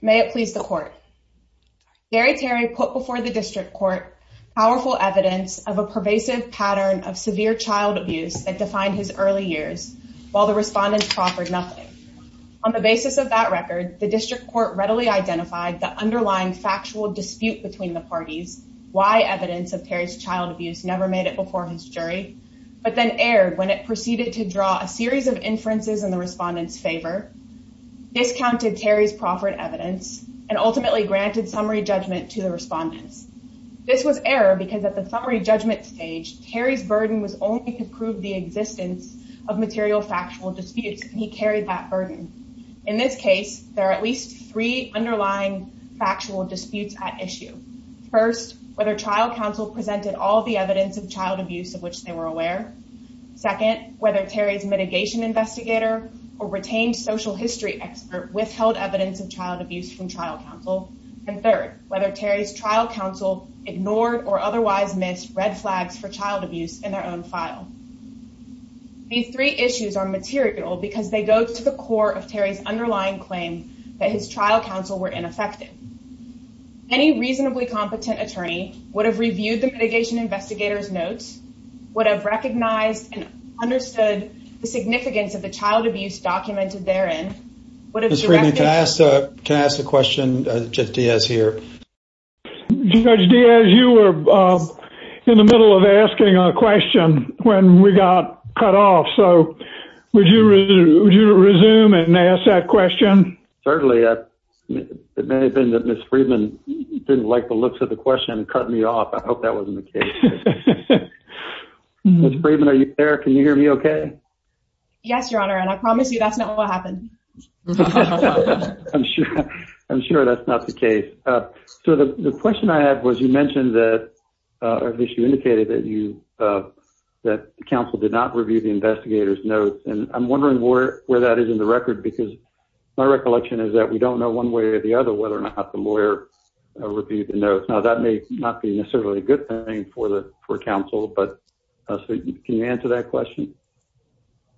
May it please the court. Gary Terry put before the district court powerful evidence of a pervasive pattern of severe child abuse that defined his early years while the respondents proffered nothing. On the basis of that record, the district court readily identified the underlying factual dispute between the parties why evidence of Terry's child abuse never made it before his jury but then erred when it proceeded to draw a series of inferences in the respondents' favor, discounted Terry's proffered evidence, and ultimately granted summary judgment to the respondents. This was error because at the summary judgment stage, Terry's burden was only to prove the existence of material factual disputes and he carried that burden. In this case, there are at least three underlying factual disputes at issue. First, whether trial counsel presented all the evidence of child abuse of which they were aware. Second, whether Terry's history expert withheld evidence of child abuse from trial counsel. And third, whether Terry's trial counsel ignored or otherwise missed red flags for child abuse in their own file. These three issues are material because they go to the core of Terry's underlying claim that his trial counsel were ineffective. Any reasonably competent attorney would have reviewed the mitigation investigator's notes, would have recognized and understood the significance of the what if. Can I ask a question? Judge Diaz here. Judge Diaz, you were in the middle of asking a question when we got cut off, so would you resume and ask that question? Certainly. It may have been that Ms. Friedman didn't like the looks of the question and cut me off. I hope that wasn't the case. Ms. Friedman, are you there? Can you hear me okay? Yes, your honor, and I promise you that's what happened. I'm sure that's not the case. So the question I had was you mentioned that, or at least you indicated that you, that counsel did not review the investigator's notes, and I'm wondering where that is in the record because my recollection is that we don't know one way or the other whether or not the lawyer reviewed the notes. Now that may not be necessarily a good thing for counsel, but can you answer that question?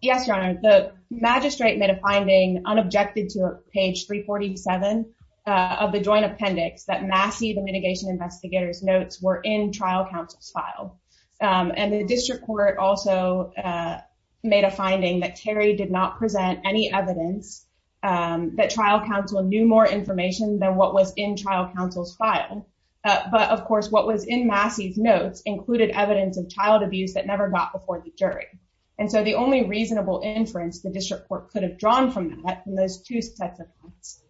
Yes, your honor. The magistrate made a finding unobjected to page 347 of the joint appendix that Massey, the mitigation investigator's notes, were in trial counsel's file, and the district court also made a finding that Terry did not present any evidence that trial counsel knew more information than what was in trial counsel's file, but of course what was in Massey's notes included evidence of child abuse that never got before the jury. And so the only reasonable inference the district court could have drawn from that, from those two sets of notes,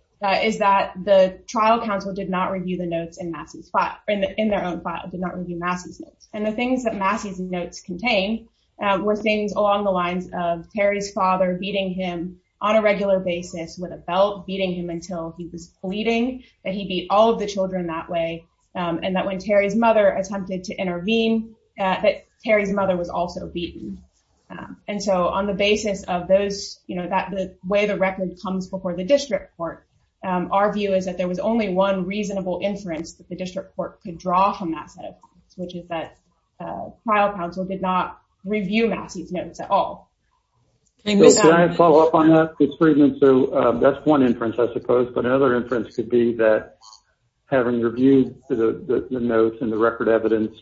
is that the trial counsel did not review the notes in Massey's file, in their own file, did not review Massey's notes. And the things that Massey's notes contained were things along the lines of Terry's father beating him on a regular basis with a belt, beating him until he was bleeding, that he beat all of the children that way, and that when Terry's mother attempted to intervene, that Terry's mother was also beaten. And so on the basis of those, you know, that the way the record comes before the district court, our view is that there was only one reasonable inference that the district court could draw from that set of things, which is that trial counsel did not review Massey's notes at all. Can I follow up on that? It's pretty good. So that's one inference, I suppose, but another inference is that the district court did not review the notes and the record evidence,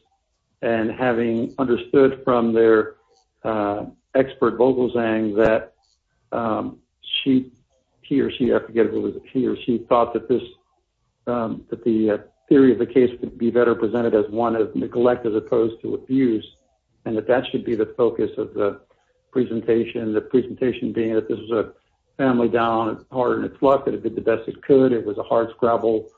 and having understood from their expert vocal saying that she, he or she, I forget who it was, he or she thought that this, that the theory of the case could be better presented as one of neglect as opposed to abuse, and that that should be the focus of the presentation. The presentation being that this was a family down, hard in its luck, that it did the best it could. It was a scrabble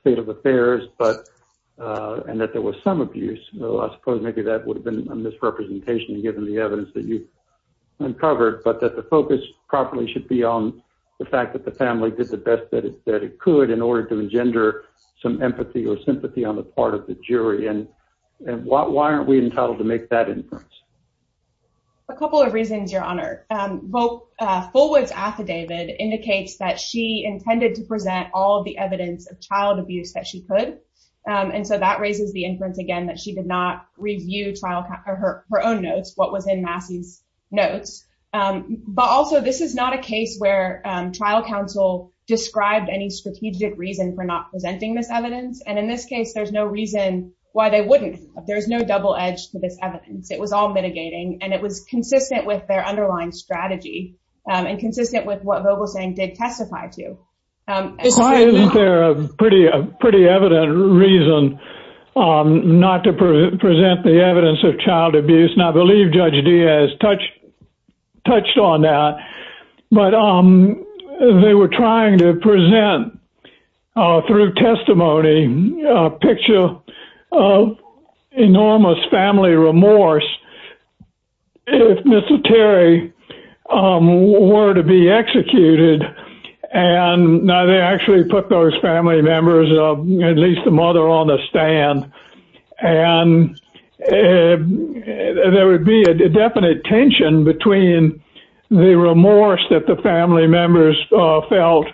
state of affairs, and that there was some abuse. I suppose maybe that would have been a misrepresentation given the evidence that you uncovered, but that the focus properly should be on the fact that the family did the best that it could in order to engender some empathy or sympathy on the part of the jury. And why aren't we entitled to make that inference? A couple of reasons, Your Honor. Fullwood's affidavit indicates that she intended to present all of the evidence of child abuse that she could, and so that raises the inference again that she did not review her own notes, what was in Massey's notes. But also, this is not a case where trial counsel described any strategic reason for not presenting this evidence, and in this case, there's no reason why they wouldn't. There's no double edge to this evidence. It was all mitigating, and it was underlying strategy, and consistent with what Vogel's saying did testify to. Isn't there a pretty evident reason not to present the evidence of child abuse? And I believe Judge Diaz touched on that, but they were trying to present through testimony a picture of how the family members felt when they were to be executed, and they actually put those family members, at least the mother, on the stand. And there would be a definite tension between the remorse that the family members felt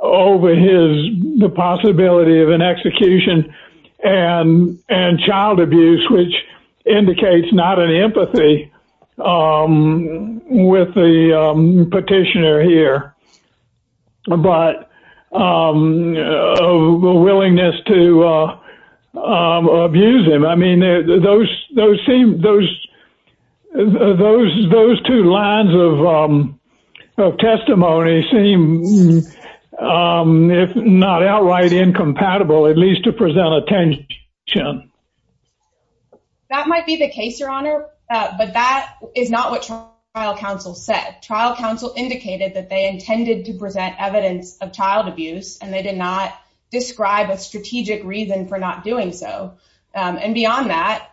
over the possibility of an execution and child abuse, which indicates not an empathy with the petitioner here, but a willingness to abuse them. I mean, those two lines of testimony seem, if not outright incompatible, at least to present a tension. That might be the case, Your Honor, but that is not what trial counsel said. Trial counsel indicated that they intended to present evidence of child abuse, and they did not describe a strategic reason for not doing so. And beyond that,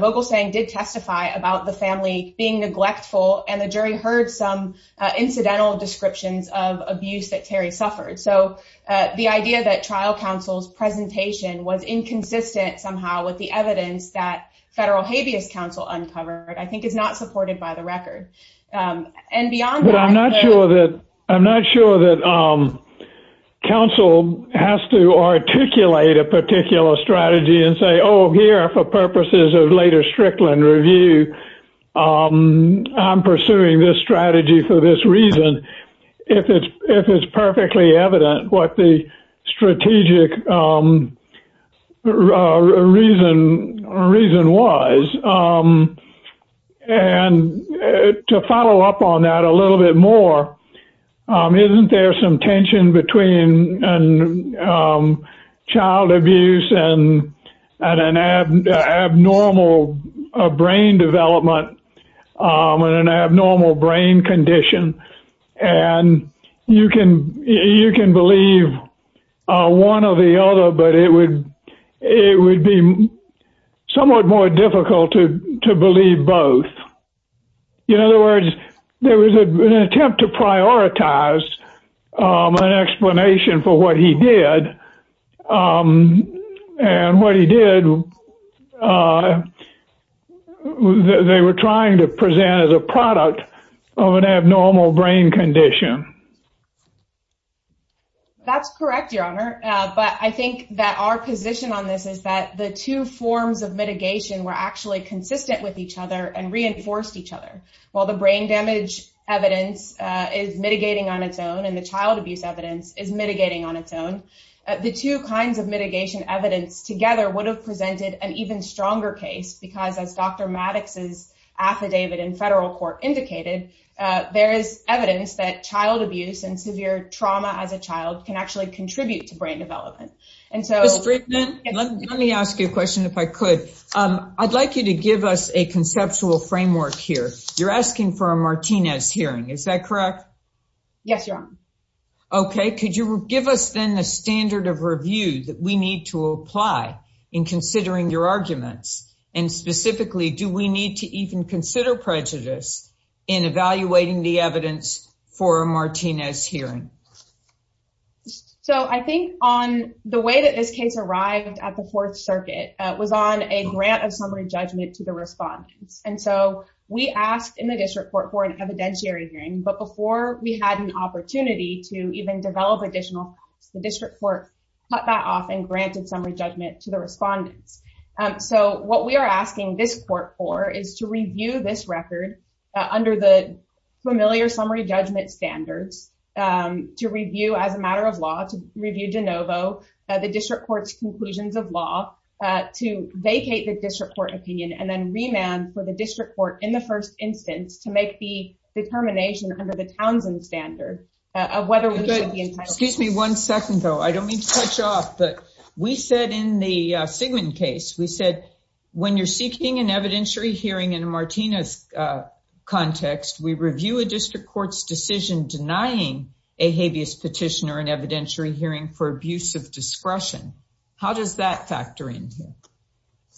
Vogel's saying did testify about the family being neglectful, and the jury heard some incidental descriptions of abuse that Terry suffered. So the idea that trial counsel's presentation was inconsistent somehow with the evidence that federal habeas counsel uncovered, I think is not supported by the record. And beyond that, I'm not sure that counsel has to articulate a particular strategy and say, here, for purposes of later Strickland review, I'm pursuing this strategy for this reason, if it's perfectly evident what the strategic reason was. And to follow up on that a little bit more, isn't there some tension between child abuse and an abnormal brain development and an abnormal brain condition? And you can believe one or the other, but it would be somewhat more difficult to believe both. In other words, there was an attempt to prioritize an explanation for what he did. And what he did, they were trying to present as a product of an abnormal brain condition. That's correct, Your Honor. But I think that our position on this is that the two forms of mitigation were actually consistent with each other and reinforced each other. While the brain damage evidence is mitigating on its own, and the child abuse evidence is mitigating on its own, the two kinds of mitigation evidence together would have presented an even stronger case, because as Dr. Maddox's affidavit in federal court indicated, there is evidence that child abuse and severe trauma as a child can actually contribute to brain development. Ms. Friedman, let me ask you a question, if I could. I'd like you to give us a conceptual framework here. You're asking for a Martinez hearing, is that correct? Yes, Your Honor. Okay. Could you give us then the standard of review that we need to apply in considering your arguments? And specifically, do we need to even consider prejudice in evaluating the evidence for a Martinez hearing? So I think on the way that this case arrived at the Fourth Circuit was on a grant of summary judgment to the respondents. And so we asked in the district court for an evidentiary hearing, but before we had an opportunity to even develop additional facts, the district court cut that off and granted summary judgment to the respondents. So what we are asking this court for is to review this record under the familiar summary judgment standards, to review as a matter of law, to review de novo, the district court's conclusions of law, to vacate the district court opinion, and then remand for the district court in the first instance to make the determination under the Townsend standard of whether we should be entitled- One second, though. I don't mean to cut you off, but we said in the Sigmund case, we said, when you're seeking an evidentiary hearing in a Martinez context, we review a district court's decision denying a habeas petition or an evidentiary hearing for abuse of discretion. How does that factor into it?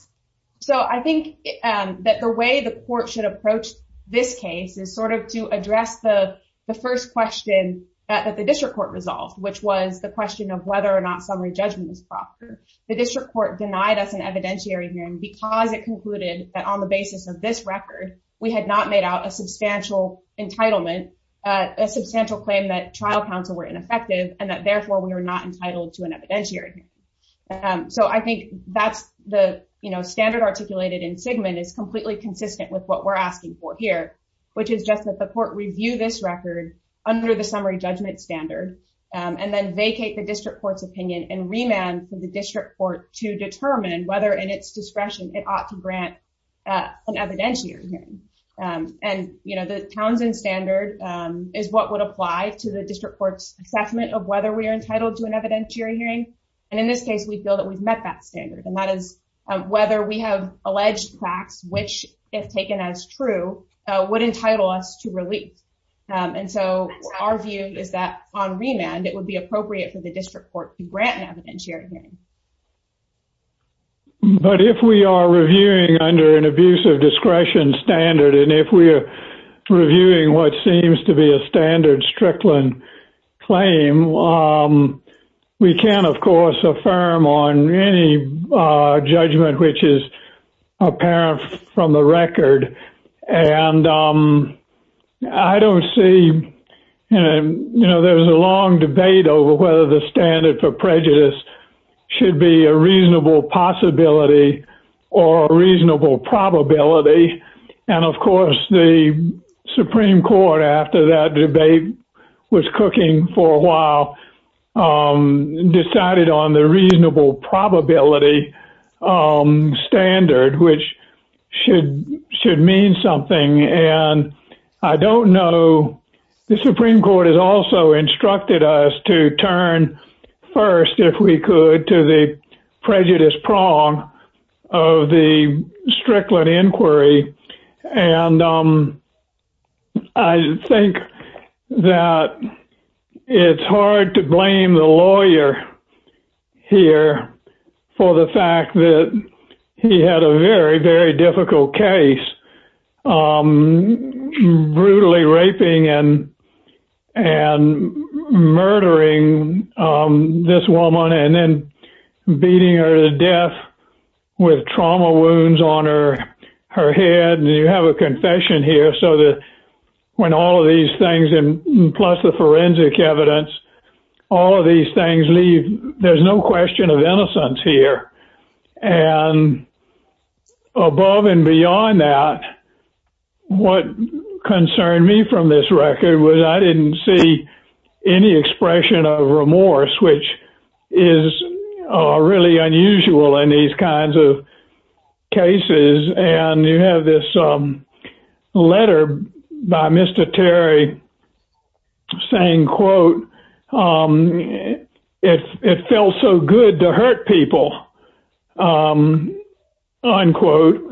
So I think that the way the court should approach this case is sort of to address the first question that the district court resolved, which was the question of whether or not summary judgment is proper. The district court denied us an evidentiary hearing because it concluded that on the basis of this record, we had not made out a substantial entitlement, a substantial claim that trial counsel were ineffective and that therefore we were not entitled to an evidentiary hearing. So I think that's the standard articulated in Sigmund is completely consistent with what we're asking for which is just that the court review this record under the summary judgment standard and then vacate the district court's opinion and remand for the district court to determine whether in its discretion it ought to grant an evidentiary hearing. And the Townsend standard is what would apply to the district court's assessment of whether we are entitled to an evidentiary hearing. And in this case, we feel that we've met that standard. And that is whether we have alleged facts, which if taken as true, would entitle us to relief. And so our view is that on remand, it would be appropriate for the district court to grant an evidentiary hearing. But if we are reviewing under an abuse of discretion standard, and if we are reviewing what seems to be a standard Strickland claim, we can, of course, affirm on any judgment which is apparent from the record. And I don't see, you know, there was a long debate over whether the standard for prejudice should be a reasonable possibility, or a reasonable probability. And of course, the Supreme Court after that debate, was cooking for a while, and decided on the reasonable probability standard, which should should mean something. And I don't know, the Supreme Court has also instructed us to turn first, if we could, to the prejudice prong of the Strickland inquiry. And I think that it's hard to blame the lawyer here for the fact that he had a very, very difficult case, brutally raping and beating her to death with trauma wounds on her head. And you have a confession here, so that when all of these things, and plus the forensic evidence, all of these things leave, there's no question of innocence here. And above and beyond that, what concerned me from this are really unusual in these kinds of cases. And you have this letter by Mr. Terry saying, quote, it felt so good to hurt people, unquote.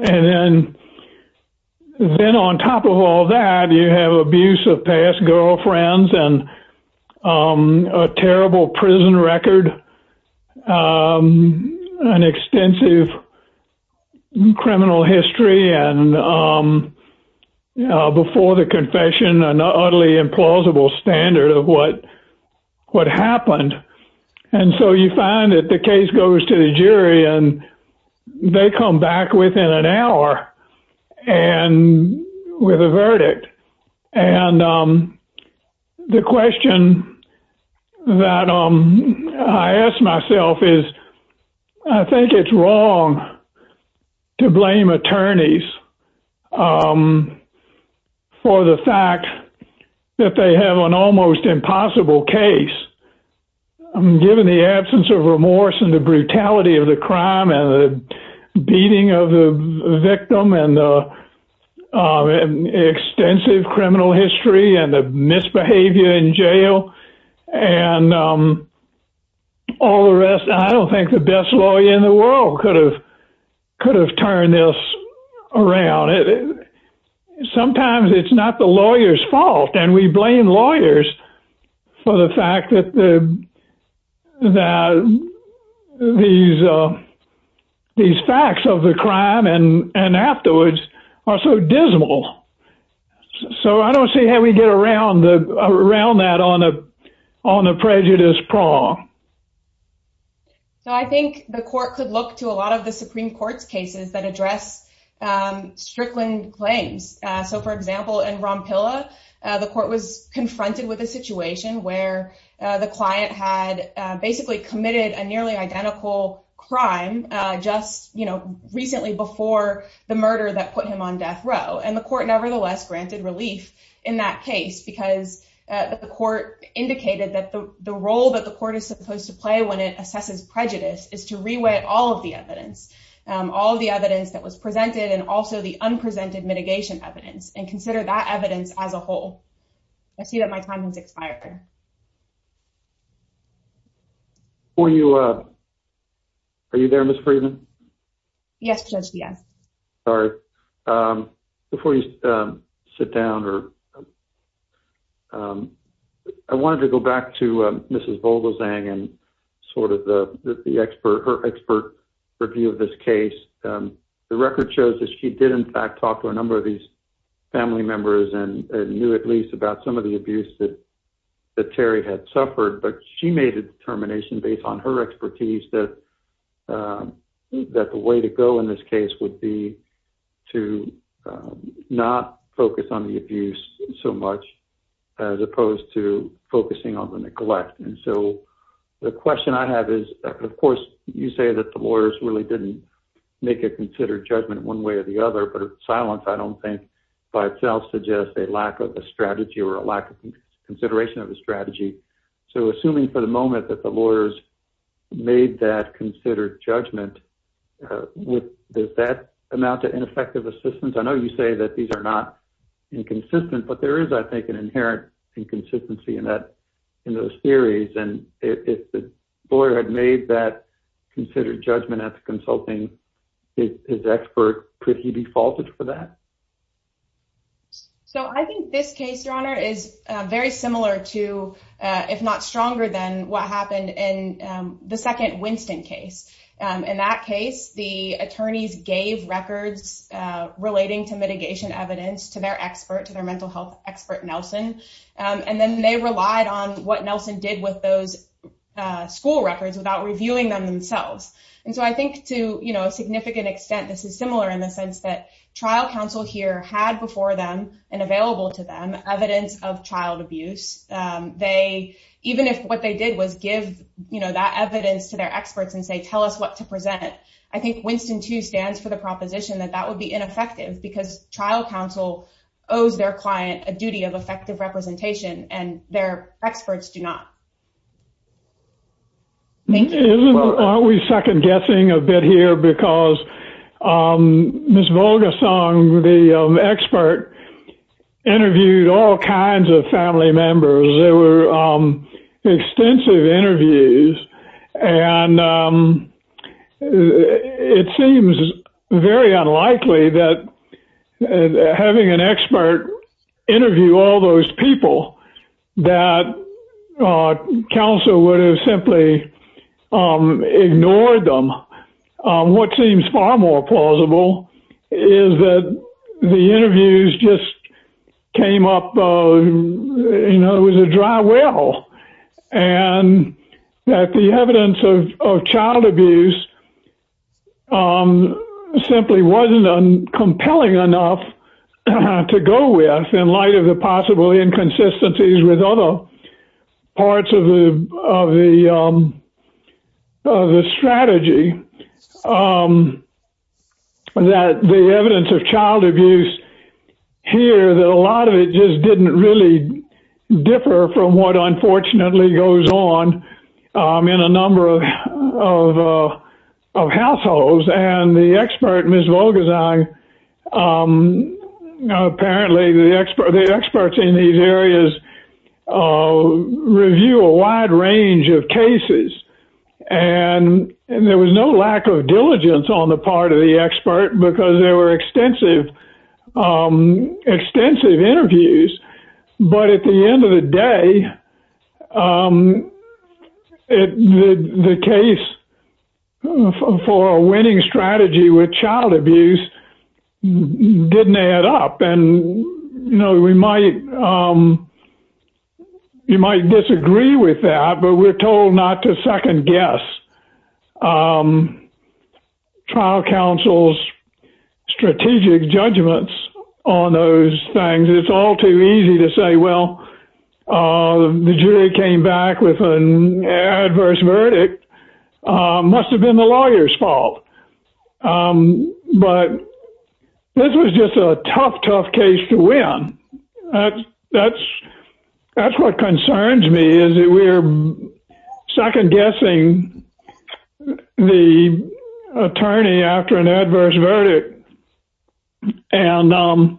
And then on top of all that, you have abuse of girlfriends, and a terrible prison record, an extensive criminal history, and before the confession, an utterly implausible standard of what happened. And so you find that case goes to the jury, and they come back within an hour and with a verdict. And the question that I asked myself is, I think it's wrong to blame attorneys for the fact that they have an almost impossible case, given the absence of remorse and the brutality of the crime, and the beating of the victim, and extensive criminal history, and the misbehavior in jail, and all the rest. I don't think the best lawyer in the world could have turned this around. Sometimes it's not the lawyer's fault, and we blame lawyers for the fact that these facts of the crime and afterwards are so dismal. So I don't see how we get around that on a prejudice prong. So I think the court could look to a lot of the Supreme Court's cases that address Strickland claims. So for example, in Rompilla, the court was confronted with a situation where the client had basically committed a nearly identical crime just recently before the murder that put him on death row. And the court nevertheless granted relief in that case, because the court indicated that the role that the court is supposed to play when it assesses prejudice is to rewrite all of the evidence, all of the evidence that was presented, and also the unprecedented mitigation evidence, and consider that evidence as a whole. I see that my time has expired there. Are you there, Ms. Friedman? Yes, Judge, yes. Sorry. Before you sit down, I wanted to go back to Mrs. Vogelsang and sort of her expert review of this case. The record shows that she did, in fact, talk to a number of these family members and knew at least about some of the abuse that Terry had suffered. But she made a determination based on her expertise that the way to go in this case would be to not focus on the abuse so much, as opposed to focusing on the neglect. And so the question I have is, of course, you say that the lawyers really didn't make a considered judgment one way or the other, but silence I don't think by itself suggests a lack of a strategy or a lack of consideration of a strategy. So assuming for the moment that the lawyers made that considered judgment, does that amount to ineffective assistance? I know you say that these are not inconsistent, but there is, I think, an inherent inconsistency in those theories. And if the lawyer had made that considered judgment at the consulting, his expert, could he be faulted for that? So I think this case, Your Honor, is very similar to, if not stronger than what happened in the second Winston case. In that case, the attorneys gave records relating to mitigation evidence to their expert, to their mental health expert, Nelson. And then they relied on what Nelson did with those school records without reviewing them themselves. And so I think to a significant extent, this is similar in the sense that trial counsel here had before them and available to them evidence of child abuse. Even if what they did was give that evidence to their experts and say, tell us what to present, I think Winston too stands for the proposition that that would be ineffective because trial counsel owes their client a duty of effective representation and their experts do not. Thank you. Isn't always second guessing a bit here because Ms. Volgasong, the expert, interviewed all kinds of family members. There were extensive interviews. And it seems very unlikely that having an expert interview all those people that counsel would have simply ignored them. What seems far more plausible is that the interviews just came up, you know, it was a dry well and that the evidence of child abuse simply wasn't compelling enough to go with in light of the possible inconsistencies with other parts of the strategy that the evidence of child abuse here that a lot of it just didn't really differ from what unfortunately goes on in a number of households. And the expert, Ms. Volgasong, apparently the experts in these areas review a wide range of cases and there was no lack of diligence on the part of the expert because there were extensive interviews. But at the end of the day, the case for a winning strategy with child abuse didn't add up. And, you know, we might disagree with that, but we're told not to second guess trial counsel's strategic judgments on those things. It's all too easy to say, well, the jury came back with an adverse verdict. Must have been the lawyer's fault. But this was just a tough, tough case to win. That's what concerns me is we're second guessing the attorney after an adverse verdict. And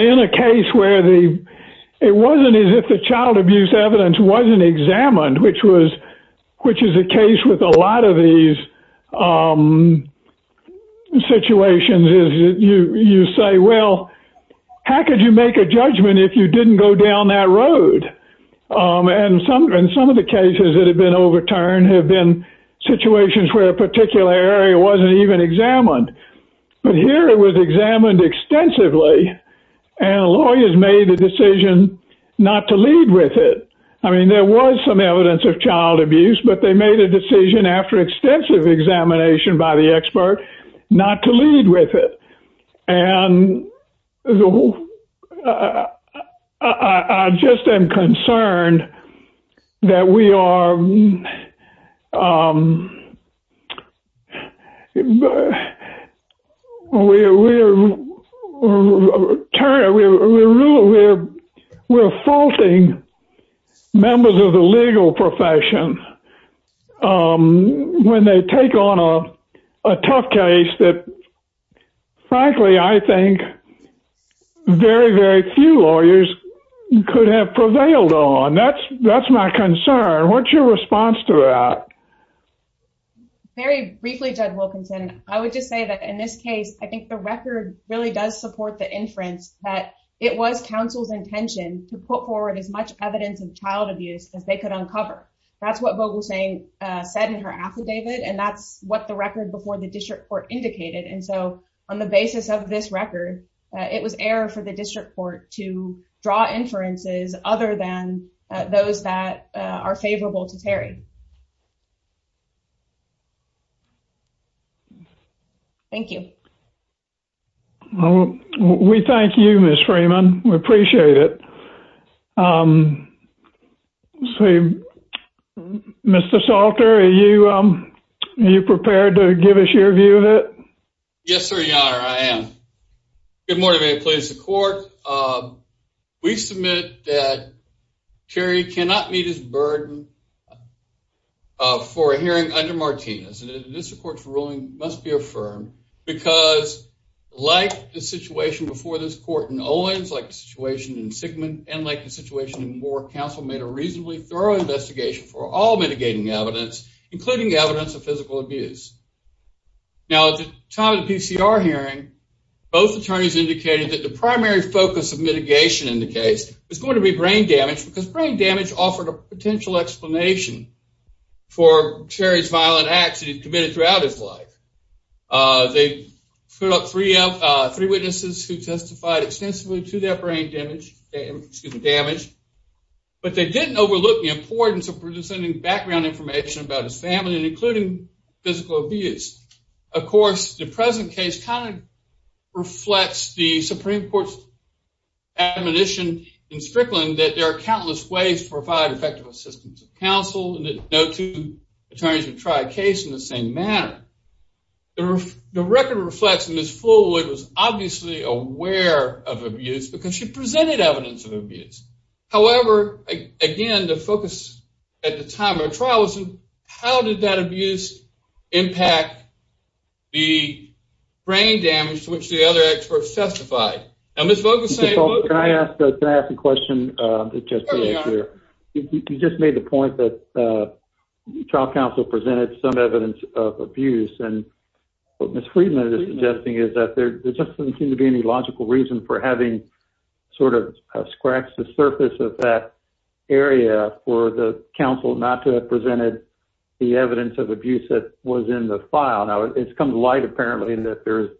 in a case where it wasn't as if the child abuse evidence wasn't examined, which is the case with a lot of these situations, you say, well, how could you make a judgment if you didn't go down that road? And some of the cases that have been overturned have been situations where a particular area wasn't even examined. But here it was examined extensively and lawyers made the decision not to lead with it. I mean, there was some evidence of child abuse, but they made a decision after extensive examination by the expert not to lead with it. And I just am concerned that we are faulting members of the legal profession when they take on a tough case that, frankly, I think very, very few lawyers could have prevailed on. That's my concern. What's your response to that? Very briefly, Judge Wilkinson, I would just say that in this case, I think the record really does support the inference that it was counsel's intention to put forward as much evidence of child abuse as they could uncover. That's what Vogel-Sang said in her affidavit, and that's what the record before the district court indicated. And so on the basis of this record, it was error for the district court to draw inferences other than those that are favorable to Terry. Thank you. Well, we thank you, Ms. Freeman. We appreciate it. Mr. Salter, are you prepared to give us your view of it? Yes, sir, your honor, I am. Good that Terry cannot meet his burden for a hearing under Martinez. And the district court's ruling must be affirmed because, like the situation before this court in Owens, like the situation in Sigmund, and like the situation in Moore, counsel made a reasonably thorough investigation for all mitigating evidence, including evidence of physical abuse. Now, at the time of the PCR hearing, both attorneys indicated that the primary focus of mitigation in the case was going to be brain damage because brain damage offered a potential explanation for Terry's violent acts that he committed throughout his life. They put up three witnesses who testified extensively to their brain damage, but they didn't overlook the importance of presenting background information about his family and including physical abuse. Of course, the present case kind of reflects the Supreme Court's admonition in Strickland that there are countless ways to provide effective assistance to counsel and that no two attorneys would try a case in the same manner. The record reflects Ms. Fuller was obviously aware of abuse because she presented evidence of abuse. However, again, the focus at the time of the trial was on how did that abuse impact the brain damage to which the other experts testified. Now, Ms. Vogel's saying... Can I ask a question? You just made the point that trial counsel presented some evidence of abuse, and what Ms. Friedman is suggesting is that there just doesn't seem to be any logical reason for sort of scratch the surface of that area for the counsel not to have presented the evidence of abuse that was in the file. Now, it's come to light apparently that there's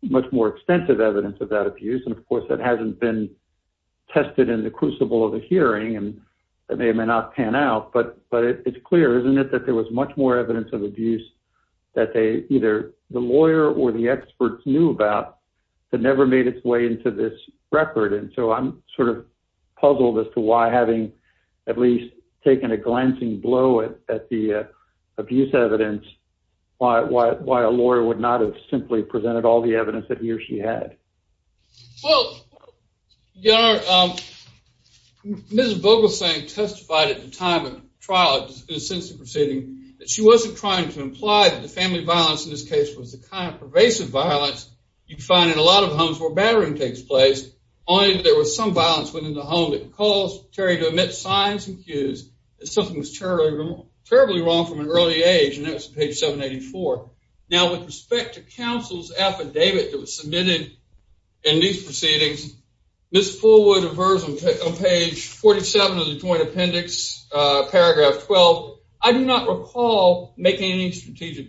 much more extensive evidence of that abuse, and of course, that hasn't been tested in the crucible of the hearing, and that may or may not pan out, but it's clear, isn't it, that there was much more evidence of abuse that either the lawyer or the experts knew about that never made its way into this record, and so I'm sort of puzzled as to why, having at least taken a glancing blow at the abuse evidence, why a lawyer would not have simply presented all the evidence that he or she had. Well, your honor, Ms. Vogel's saying testified at the time of trial in the sense of proceeding that she wasn't trying to imply that the family violence in this case was the kind of pervasive violence you find in a lot of homes where battering takes place, only there was some violence within the home that caused Terry to emit signs and cues that something was terribly wrong from an early age, and that's page 784. Now, with respect to counsel's affidavit that was submitted in these any strategic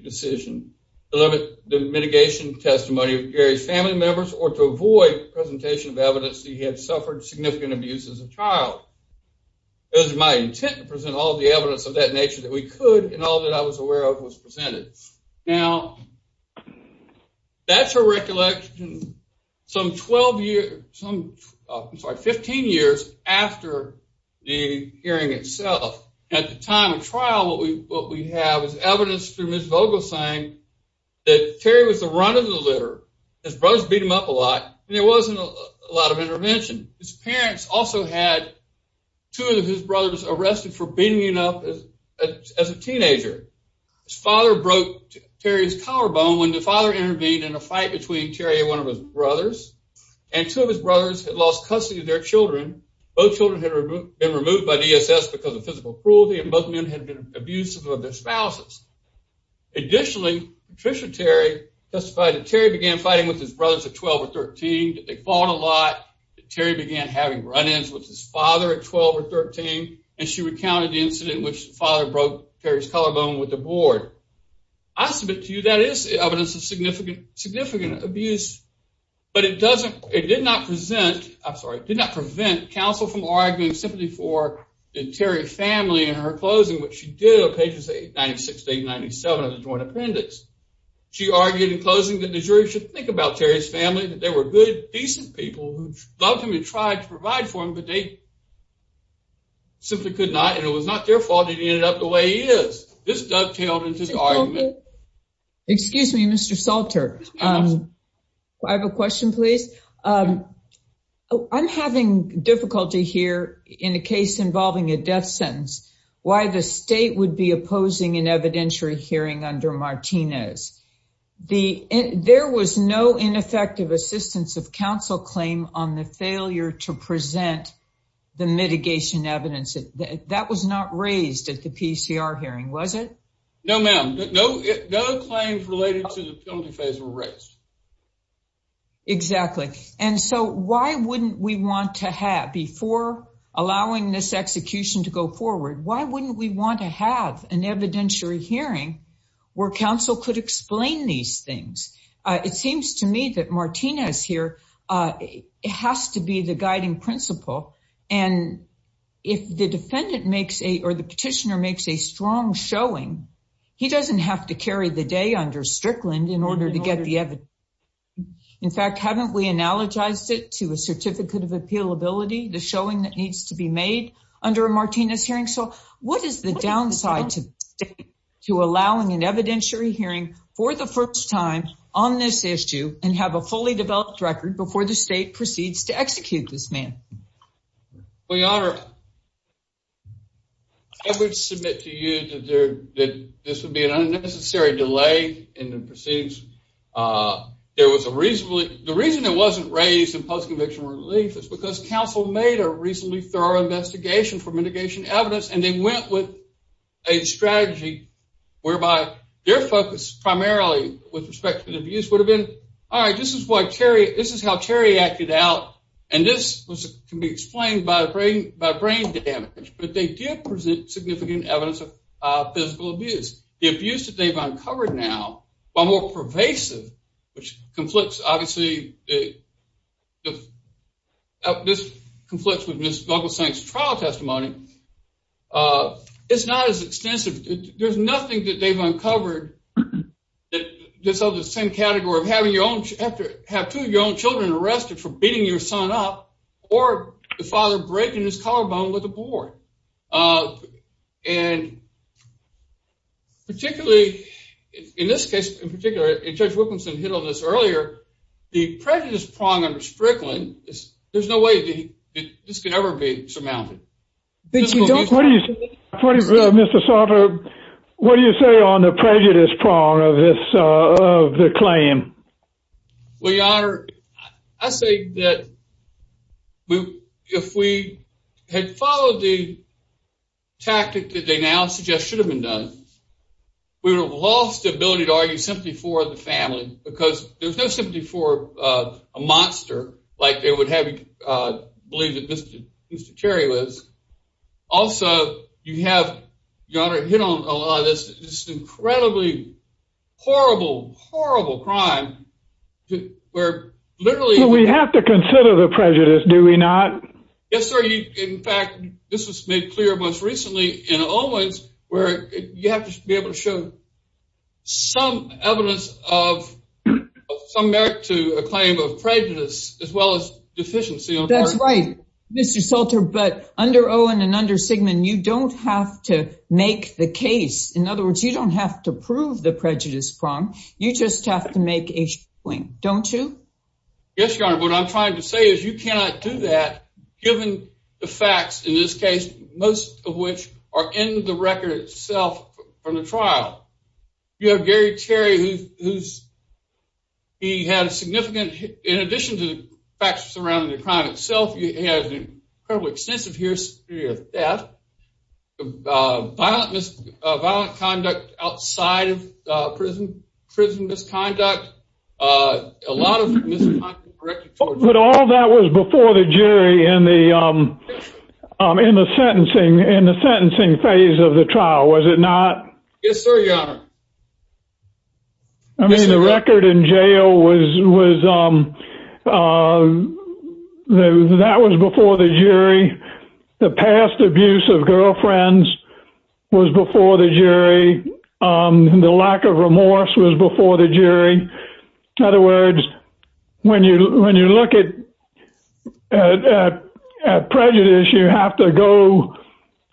decision to limit the mitigation testimony of Gary's family members or to avoid presentation of evidence that he had suffered significant abuse as a child, it was my intent to present all the evidence of that nature that we could, and all that I was aware of was presented. Now, that's a recollection some 12 years, some, I'm sorry, 15 years after the hearing itself. At the time of trial, what we have is evidence through Ms. Vogel saying that Terry was the run of the litter. His brothers beat him up a lot, and there wasn't a lot of intervention. His parents also had two of his brothers arrested for beating him up as a teenager. His father broke Terry's collarbone when the father intervened in a fight between Terry and one of his brothers, and two of his brothers had lost custody of their children. Both children had been removed by DSS because of cruelty, and both men had been abusive of their spouses. Additionally, Patricia Terry testified that Terry began fighting with his brothers at 12 or 13. They fought a lot. Terry began having run-ins with his father at 12 or 13, and she recounted the incident in which the father broke Terry's collarbone with the board. I submit to you that is evidence of significant abuse, but it did not prevent counsel from arguing simply for the Terry family in her closing, which she did on pages 96 to 97 of the joint appendix. She argued in closing that the jury should think about Terry's family, that they were good, decent people who loved him and tried to provide for him, but they simply could not, and it was not their fault he ended up the way he is. This dovetailed into the argument. Excuse me, Mr. Salter. I have a question, please. I'm having difficulty here in a case involving a death sentence, why the state would be opposing an evidentiary hearing under Martinez. There was no ineffective assistance of counsel claim on the failure to present the mitigation evidence. That was not raised at the PCR hearing, was it? No, ma'am. No claims related to the penalty phase were raised. Exactly, and so why wouldn't we want to have, before allowing this execution to go forward, why wouldn't we want to have an evidentiary hearing where counsel could explain these things? It seems to me that Martinez here has to be the guiding principle, and if the petitioner makes a strong showing, he doesn't have to carry the day under Strickland in order to get the evidence. In fact, haven't we analogized it to a certificate of appealability, the showing that needs to be made under a Martinez hearing? What is the downside to allowing an evidentiary hearing for the first time on this issue and have a fully developed record before the state proceeds to execute this man? Your Honor, I would submit to you that this would be an unnecessary delay in the proceedings. The reason it wasn't raised in post-conviction relief is because counsel made a reasonably thorough investigation for mitigation evidence, and they primarily, with respect to the abuse, would have been, all right, this is how Terry acted out, and this can be explained by brain damage, but they did present significant evidence of physical abuse. The abuse that they've uncovered now, while more pervasive, which conflicts, obviously, with Ms. Gugglesang's trial testimony, it's not as extensive. There's nothing that is of the same category of having two of your own children arrested for beating your son up or the father breaking his collarbone with a board. Particularly, in this case, in particular, Judge Wilkinson hit on this earlier, the prejudice prong under Strickland, there's no way this could ever be surmounted. Mr. Salter, what do you say on the prejudice prong of the claim? Well, Your Honor, I say that if we had followed the tactic that they now suggest should have been done, we would have lost the ability to argue sympathy for the family because there's no belief that Mr. Terry was. Also, you have, Your Honor, hit on a lot of this incredibly horrible, horrible crime where literally- We have to consider the prejudice, do we not? Yes, sir. In fact, this was made clear most recently in Owens where you have to be able to have some evidence of some merit to a claim of prejudice as well as deficiency of merit. That's right, Mr. Salter, but under Owen and under Sigmund, you don't have to make the case. In other words, you don't have to prove the prejudice prong. You just have to make a swing, don't you? Yes, Your Honor. What I'm trying to say is you cannot do that given the facts in this trial. You have Gary Terry who's, he had a significant, in addition to the facts surrounding the crime itself, he has an incredibly extensive history of theft, violent misconduct outside of prison misconduct, a lot of misconduct- But all that was before the jury in the sentencing phase of the trial, was it not? Yes, sir, Your Honor. I mean, the record in jail was, that was before the jury. The past abuse of girlfriends was before the jury. The lack of remorse was before the jury. In other words, when you look at prejudice, you have to go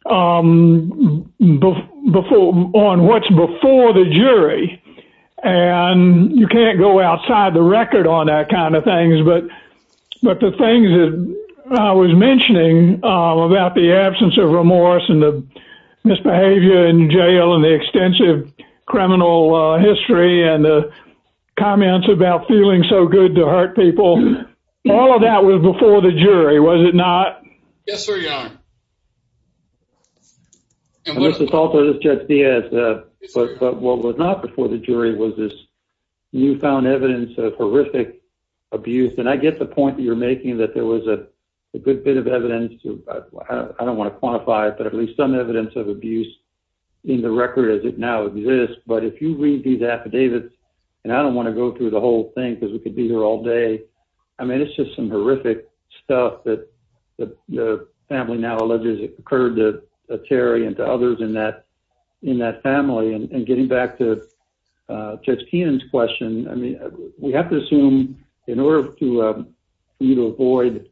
on what's before the jury and you can't go outside the record on that kind of things. But the things that I was mentioning about the absence of remorse and the misbehavior in jail and the extensive criminal history and the comments about feeling so good to hurt people, all of that was before the jury, was it not? Yes, sir, Your Honor. And this is also, this is Judge Diaz, but what was not before the jury was this newfound evidence of horrific abuse. And I get the point that you're making that there was a good bit of evidence, I don't want to quantify it, but at least some evidence of abuse in the record as it now exists. But if you read these affidavits, and I don't want to go through the whole thing because we could be here all day, I mean, it's just some horrific stuff that the family now alleges occurred to Terry and to others in that family. And getting back to Judge Keenan's question, I mean, we have to assume in order for you to avoid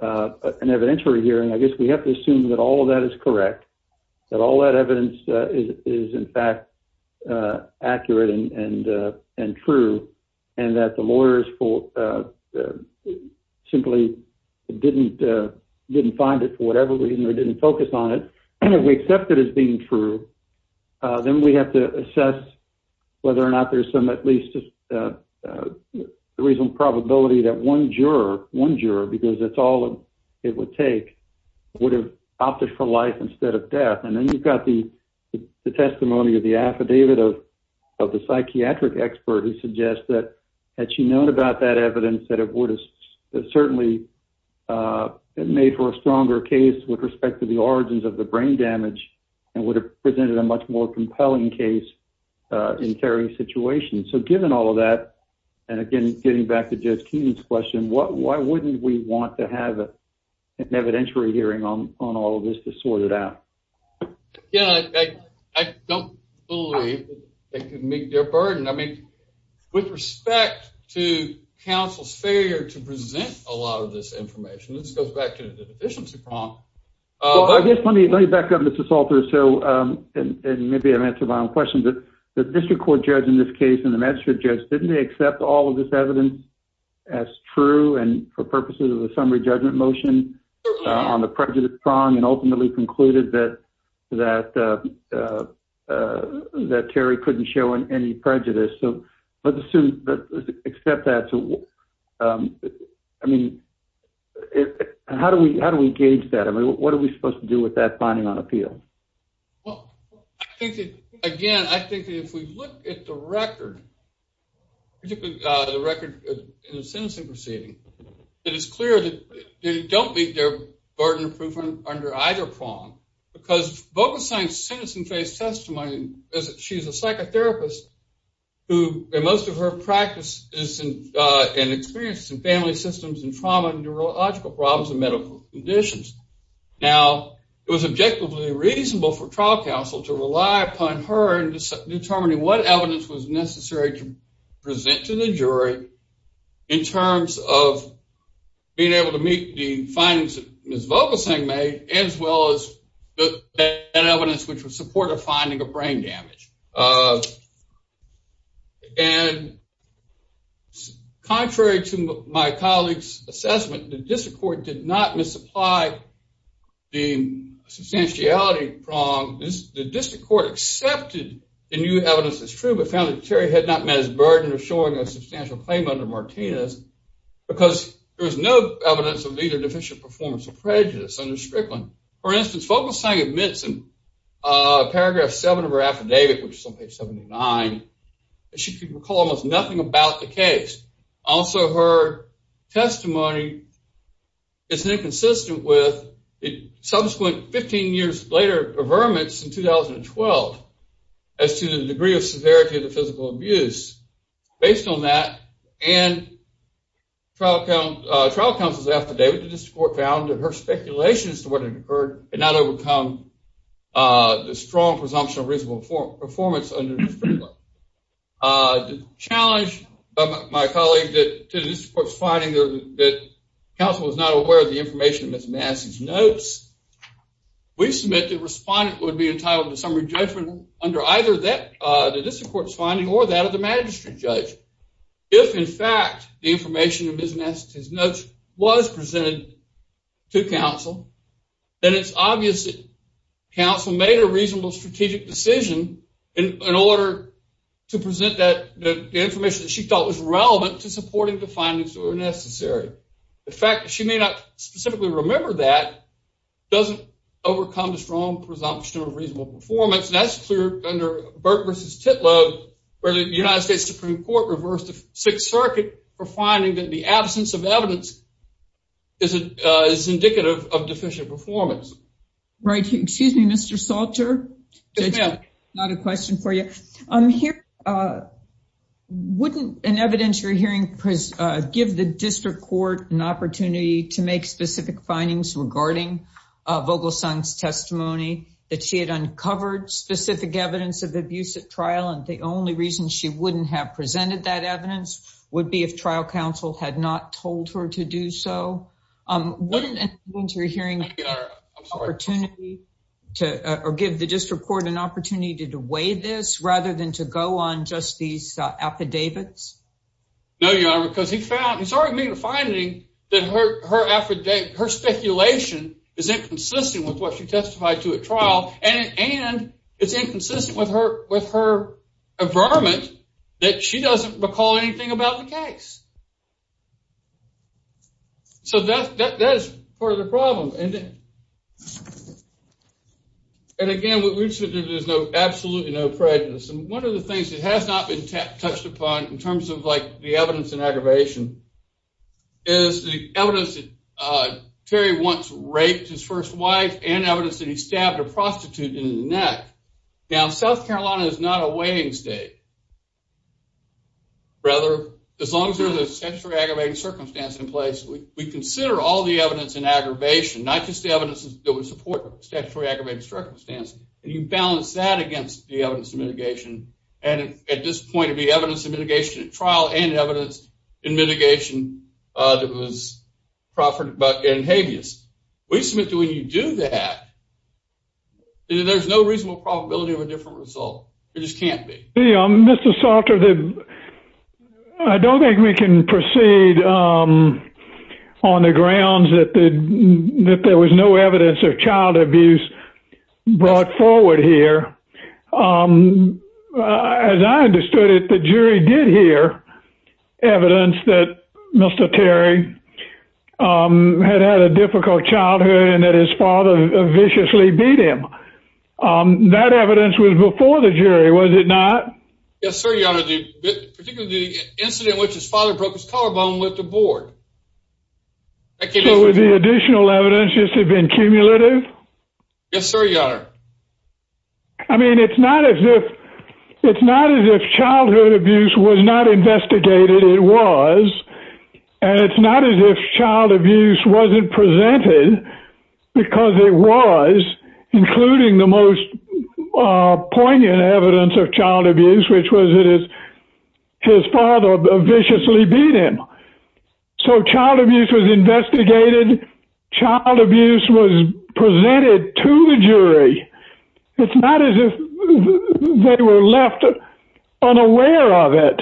an evidentiary hearing, I guess we have to assume that all of that is correct, that all that evidence is in fact accurate and true, and that the lawyers simply didn't find it for whatever reason or didn't focus on it. And if we accept it as being true, then we have to assess whether or not there's some at least reasonable probability that one juror, one juror, because that's all it would take, would have opted for life instead of death. And then you've got the testimony of the affidavit of the psychiatric expert who suggests that had she known about that evidence that it would have certainly made for a stronger case with respect to the origins of the brain damage and would have presented a much more compelling case in Terry's situation. So given all of that, and again, getting back to Judge Keenan's question, why wouldn't we want to have an evidentiary hearing on all of this to sort it out? Yeah, I don't believe it could meet their burden. I mean, with respect to counsel's failure to present a lot of this information, this goes back to the deficiency prompt. I guess let me back up, Mr. Salter. So, and maybe I'm answering my own question, but the district court judge in this case and the magistrate judge, didn't they accept all of this evidence as true and for purposes of a summary judgment motion on the prejudice prong and ultimately concluded that Terry couldn't show any prejudice? So let's assume, accept that. I mean, how do we gauge that? I mean, what are we supposed to do with that finding on appeal? Well, I think that, again, I think if we look at the record, particularly the record in the sentencing proceeding, it is clear that they don't meet their burden of proof under either prong because Vogelstein's sentencing case testimony is that she's a psychotherapist who, in most of her practice, is an experienced in family systems and trauma and neurological problems and medical conditions. Now, it was objectively reasonable for trial counsel to rely upon her in determining what evidence was necessary to present to the jury in terms of being able to meet the findings that Ms. Vogelstein made as well as that evidence, which was supportive finding of brain damage. And contrary to my colleague's assessment, the district court did not misapply the substantiality prong. The district court accepted the new evidence as true but found that Terry had not met his burden of showing a substantial claim under Martinez because there was no evidence of either deficient performance or prejudice under Strickland. For instance, Vogelstein admits in paragraph 7 of her affidavit, which is on page 79, that she could recall almost nothing about the case. Also, her testimony is inconsistent with subsequent 15 years later affirmance in 2012 as to the degree of severity of the physical abuse. Based on that and trial counsel's affidavit, the district court found that her speculation as to what had occurred had not overcome the strong presumption of reasonable performance under Strickland. To challenge my colleague to the district court's finding that counsel was not aware of the information in Ms. Madison's notes, we submit that the respondent would be entitled to summary judgment under either the district court's finding or that of the magistrate judge. If, in fact, the information in Ms. Madison's notes was presented to counsel, then it's obvious that counsel made a reasonable strategic decision in order to present the information that she thought was relevant to supporting the findings that were necessary. The fact that she may not specifically remember that doesn't overcome the strong presumption of reasonable performance. That's clear under Burke v. Titlow, where the United States Supreme Court reversed the Sixth Circuit for finding that the absence of evidence is indicative of deficient performance. Excuse me, Mr. Salter, not a question for you. Wouldn't an evidentiary hearing give the district court an opportunity to make specific findings regarding Vogelson's testimony that she had uncovered specific evidence of abuse at trial and the only reason she wouldn't have presented that evidence would be if trial counsel had not told her to do so? Wouldn't an evidentiary hearing give the district court an opportunity to weigh this rather than to go on just these affidavits? No, Your Honor, because he's already made a finding that her speculation is inconsistent with what she testified to at trial and it's inconsistent with her affirmation that she doesn't recall anything about the case. So that's part of the problem. And again, there's absolutely no prejudice. And one of the things that has not been touched upon in terms of the evidence and aggravation is the evidence that Terry once and evidence that he stabbed a prostitute in the neck. Now, South Carolina is not a weighing state. Brother, as long as there's a statutory aggravating circumstance in place, we consider all the evidence in aggravation, not just the evidence that would support statutory aggravating circumstance, and you balance that against the evidence of mitigation. And at this point, it would be evidence of mitigation at trial and evidence in mitigation that was proffered in habeas. We submit that when you do that, there's no reasonable probability of a different result. It just can't be. Mr. Salter, I don't think we can proceed on the grounds that there was no evidence of child abuse brought forward here. As I understood it, the jury did hear evidence that Mr. Terry had had a difficult childhood and that his father viciously beat him. That evidence was before the jury, was it not? Yes, sir, your honor. Particularly the incident in which his father broke his collarbone with the Yes, sir, your honor. I mean, it's not as if childhood abuse was not investigated, it was. And it's not as if child abuse wasn't presented, because it was, including the most poignant evidence of child abuse, which was his father viciously beat him. So child abuse was investigated, child abuse was presented to the jury. It's not as if they were left unaware of it.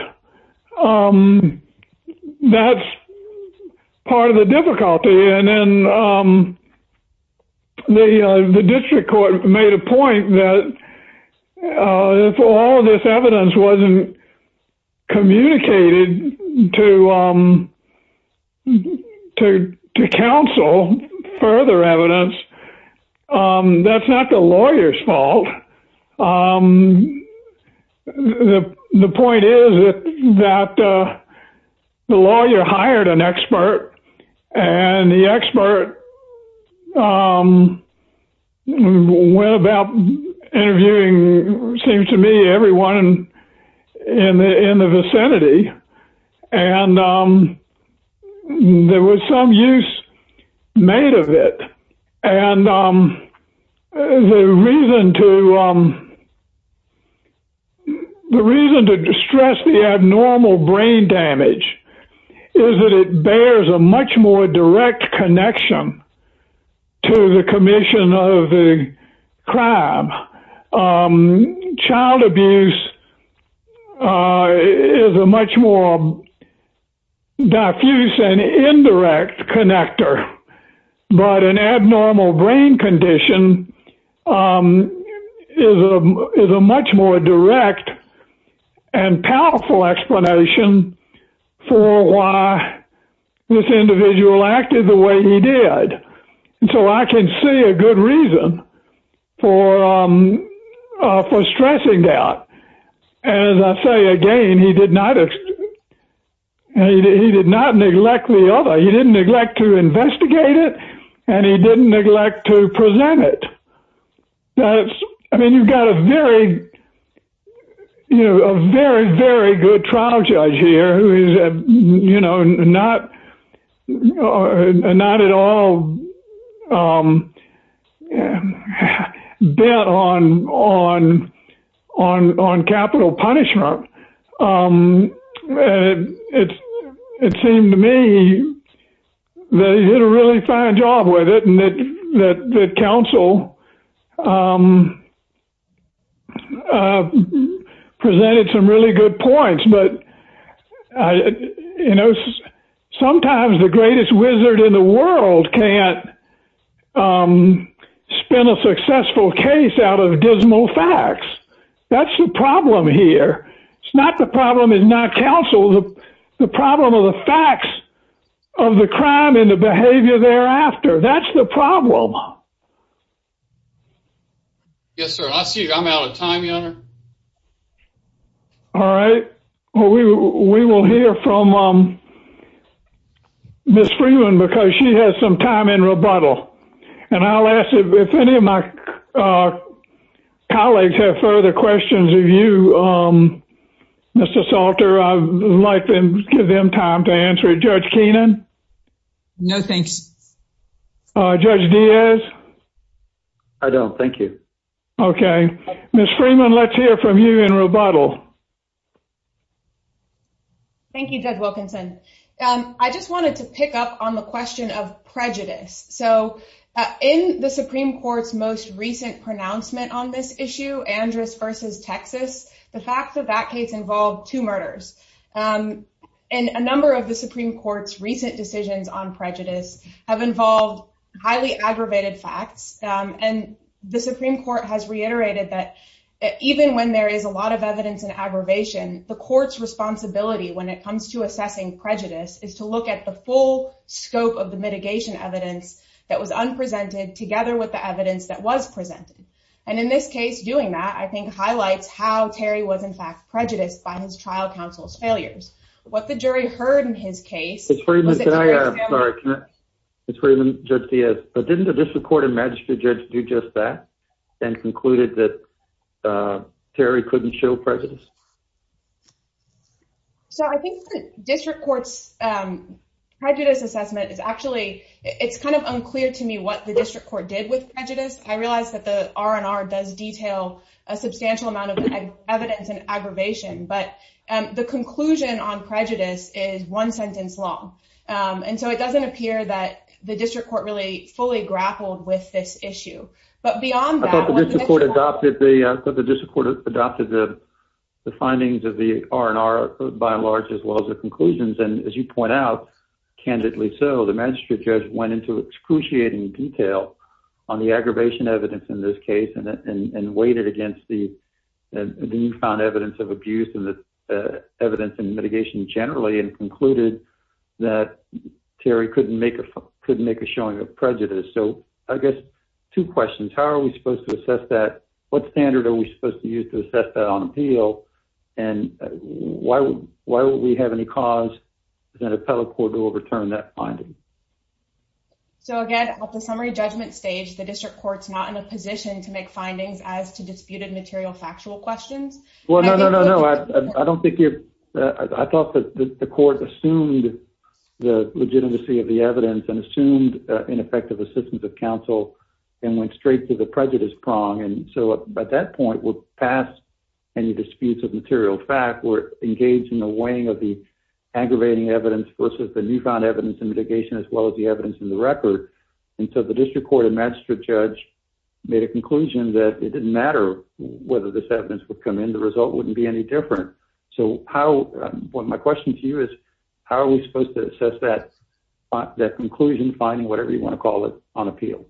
That's part of the difficulty. And then the district court made a point that if all this evidence wasn't communicated to counsel, further evidence, that's not the lawyer's fault. The point is that the lawyer hired an expert, and the expert went about interviewing, it seems to me, everyone in the vicinity. And there was some use made of it. And the reason to stress the abnormal brain damage is that it bears a much more direct connection to the commission of the crime. Child abuse is a much more diffuse and indirect connector. But an abnormal brain condition is a much more direct and powerful explanation for why this individual acted the way he did. So I can see a good reason for stressing that. As I say again, he did not neglect the other, he didn't neglect to investigate it, and he didn't neglect to present it. I mean, you've got a very, you know, a very, very good trial judge here who is, you know, not at all bent on capital punishment. And it seemed to me that he did a really fine job with it, and that counsel presented some really good points. But, you know, sometimes the greatest wizard in the world can't spin a successful case out of dismal facts. That's the problem here. It's not the problem is not counsel, the problem are the facts of the crime and the behavior thereafter. That's the problem. Yes, sir. I see I'm out of time. All right. Well, we will hear from Miss Freeman because she has some time in rebuttal. And I'll ask if any of my colleagues have further questions of you, Mr. Salter, I'd like to give them time to answer. Judge Keenan? No, thanks. Judge Diaz? I don't. Thank you. Okay. Miss Freeman, let's hear from you in rebuttal. Thank you, Judge Wilkinson. I just wanted to pick up on the question of prejudice. So in the Supreme Court's most recent pronouncement on this issue, Andrus versus Texas, the facts of that case involved two murders. And a number of the Supreme Court's recent decisions on prejudice have involved highly aggravated facts. And the Supreme Court has reiterated that even when there is a lot of evidence and aggravation, the court's responsibility when it comes to assessing prejudice is to look at the full scope of the mitigation evidence that was unpresented together with the evidence that was presented. And in this case, doing that, I think, highlights how Terry was, in fact, prejudiced by his trial counsel's failures. What the jury heard in his case... Miss Freeman, can I... I'm sorry, can I... Miss Freeman, Judge Diaz, but didn't the district court and magistrate judge do just that and concluded that Terry couldn't show prejudice? So I think the district court's prejudice assessment is actually... it's kind of unclear to me what the district court did with prejudice. I realize that the R&R does detail a substantial amount of evidence and aggravation, but the conclusion on prejudice is one sentence long. And so it doesn't appear that the district court really fully grappled with this issue. But beyond that... I thought the district court adopted the findings of the R&R by and large, as well as the conclusions. And as you point out, candidly so, the magistrate judge went into excruciating detail on the aggravation evidence in this case and weighed it against the found evidence of abuse and the evidence and mitigation generally and concluded that Terry couldn't make a showing of prejudice. So I guess two questions. How are we supposed to assess that? What standard are we having to cause an appellate court to overturn that finding? So again, at the summary judgment stage, the district court's not in a position to make findings as to disputed material factual questions. Well, no, no, no, no. I don't think you're... I thought that the court assumed the legitimacy of the evidence and assumed ineffective assistance of counsel and went straight to the prejudice prong. And so at that point, we're past any disputes of material fact. We're engaged in weighing of the aggravating evidence versus the newfound evidence and mitigation, as well as the evidence in the record. And so the district court and magistrate judge made a conclusion that it didn't matter whether this evidence would come in. The result wouldn't be any different. So how... Well, my question to you is, how are we supposed to assess that conclusion, finding whatever you want to call it, on appeal?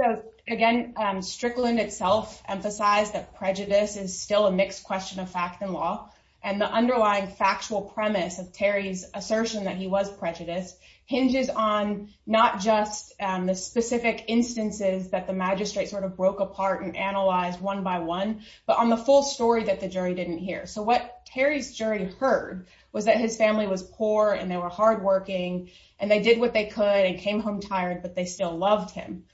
So again, Strickland itself emphasized that prejudice is still a mixed question of fact and law. And the underlying factual premise of Terry's assertion that he was prejudiced hinges on not just the specific instances that the magistrate sort of broke apart and analyzed one by one, but on the full story that the jury didn't hear. So what Terry's jury heard was that his family was poor and they were hardworking, and they did what they could and came home tired, but they still loved him.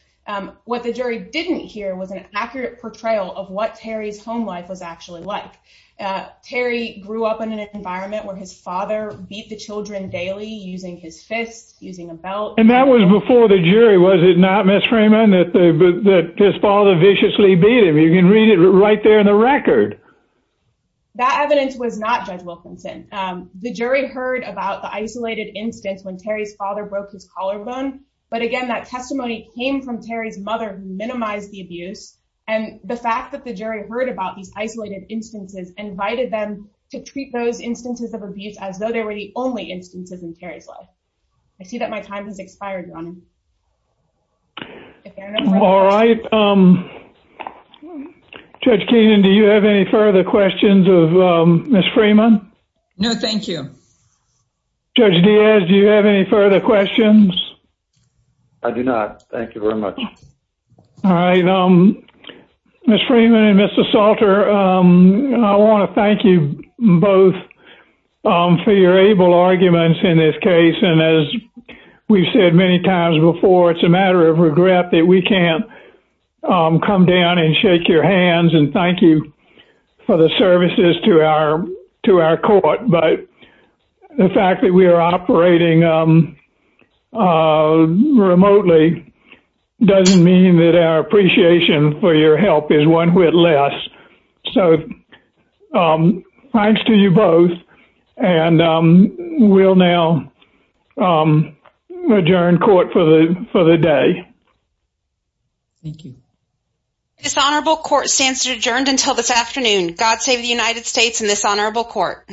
What the jury didn't hear was an accurate portrayal of what Terry's home life was actually like. Terry grew up in an environment where his father beat the children daily using his fists, using a belt. And that was before the jury, was it not, Ms. Freeman, that his father viciously beat him? You can read it right there in the record. That evidence was not Judge Wilkinson. The jury heard about the isolated instance when Terry's father broke his collarbone. But again, that testimony came from Terry's mother who minimized the abuse. And the fact that the jury heard about these isolated instances invited them to treat those instances of abuse as though they were the only instances in Terry's life. I see that my time has expired, Your Honor. All right. Judge Keenan, do you have any further questions of Ms. Freeman? No, thank you. Judge Diaz, do you have any further questions? I do not. Thank you very much. All right. Ms. Freeman and Mr. Salter, I want to thank you both for your able arguments in this case. And as we've said many times before, it's a matter of regret that we can't come down and shake your hands. And thank you for the services to our court. But the fact that we are operating remotely doesn't mean that our appreciation for your help is one bit less. So thanks to you both. And we'll now adjourn court for the day. Thank you. This honorable court stands adjourned until this afternoon. God save the United States and this honorable court.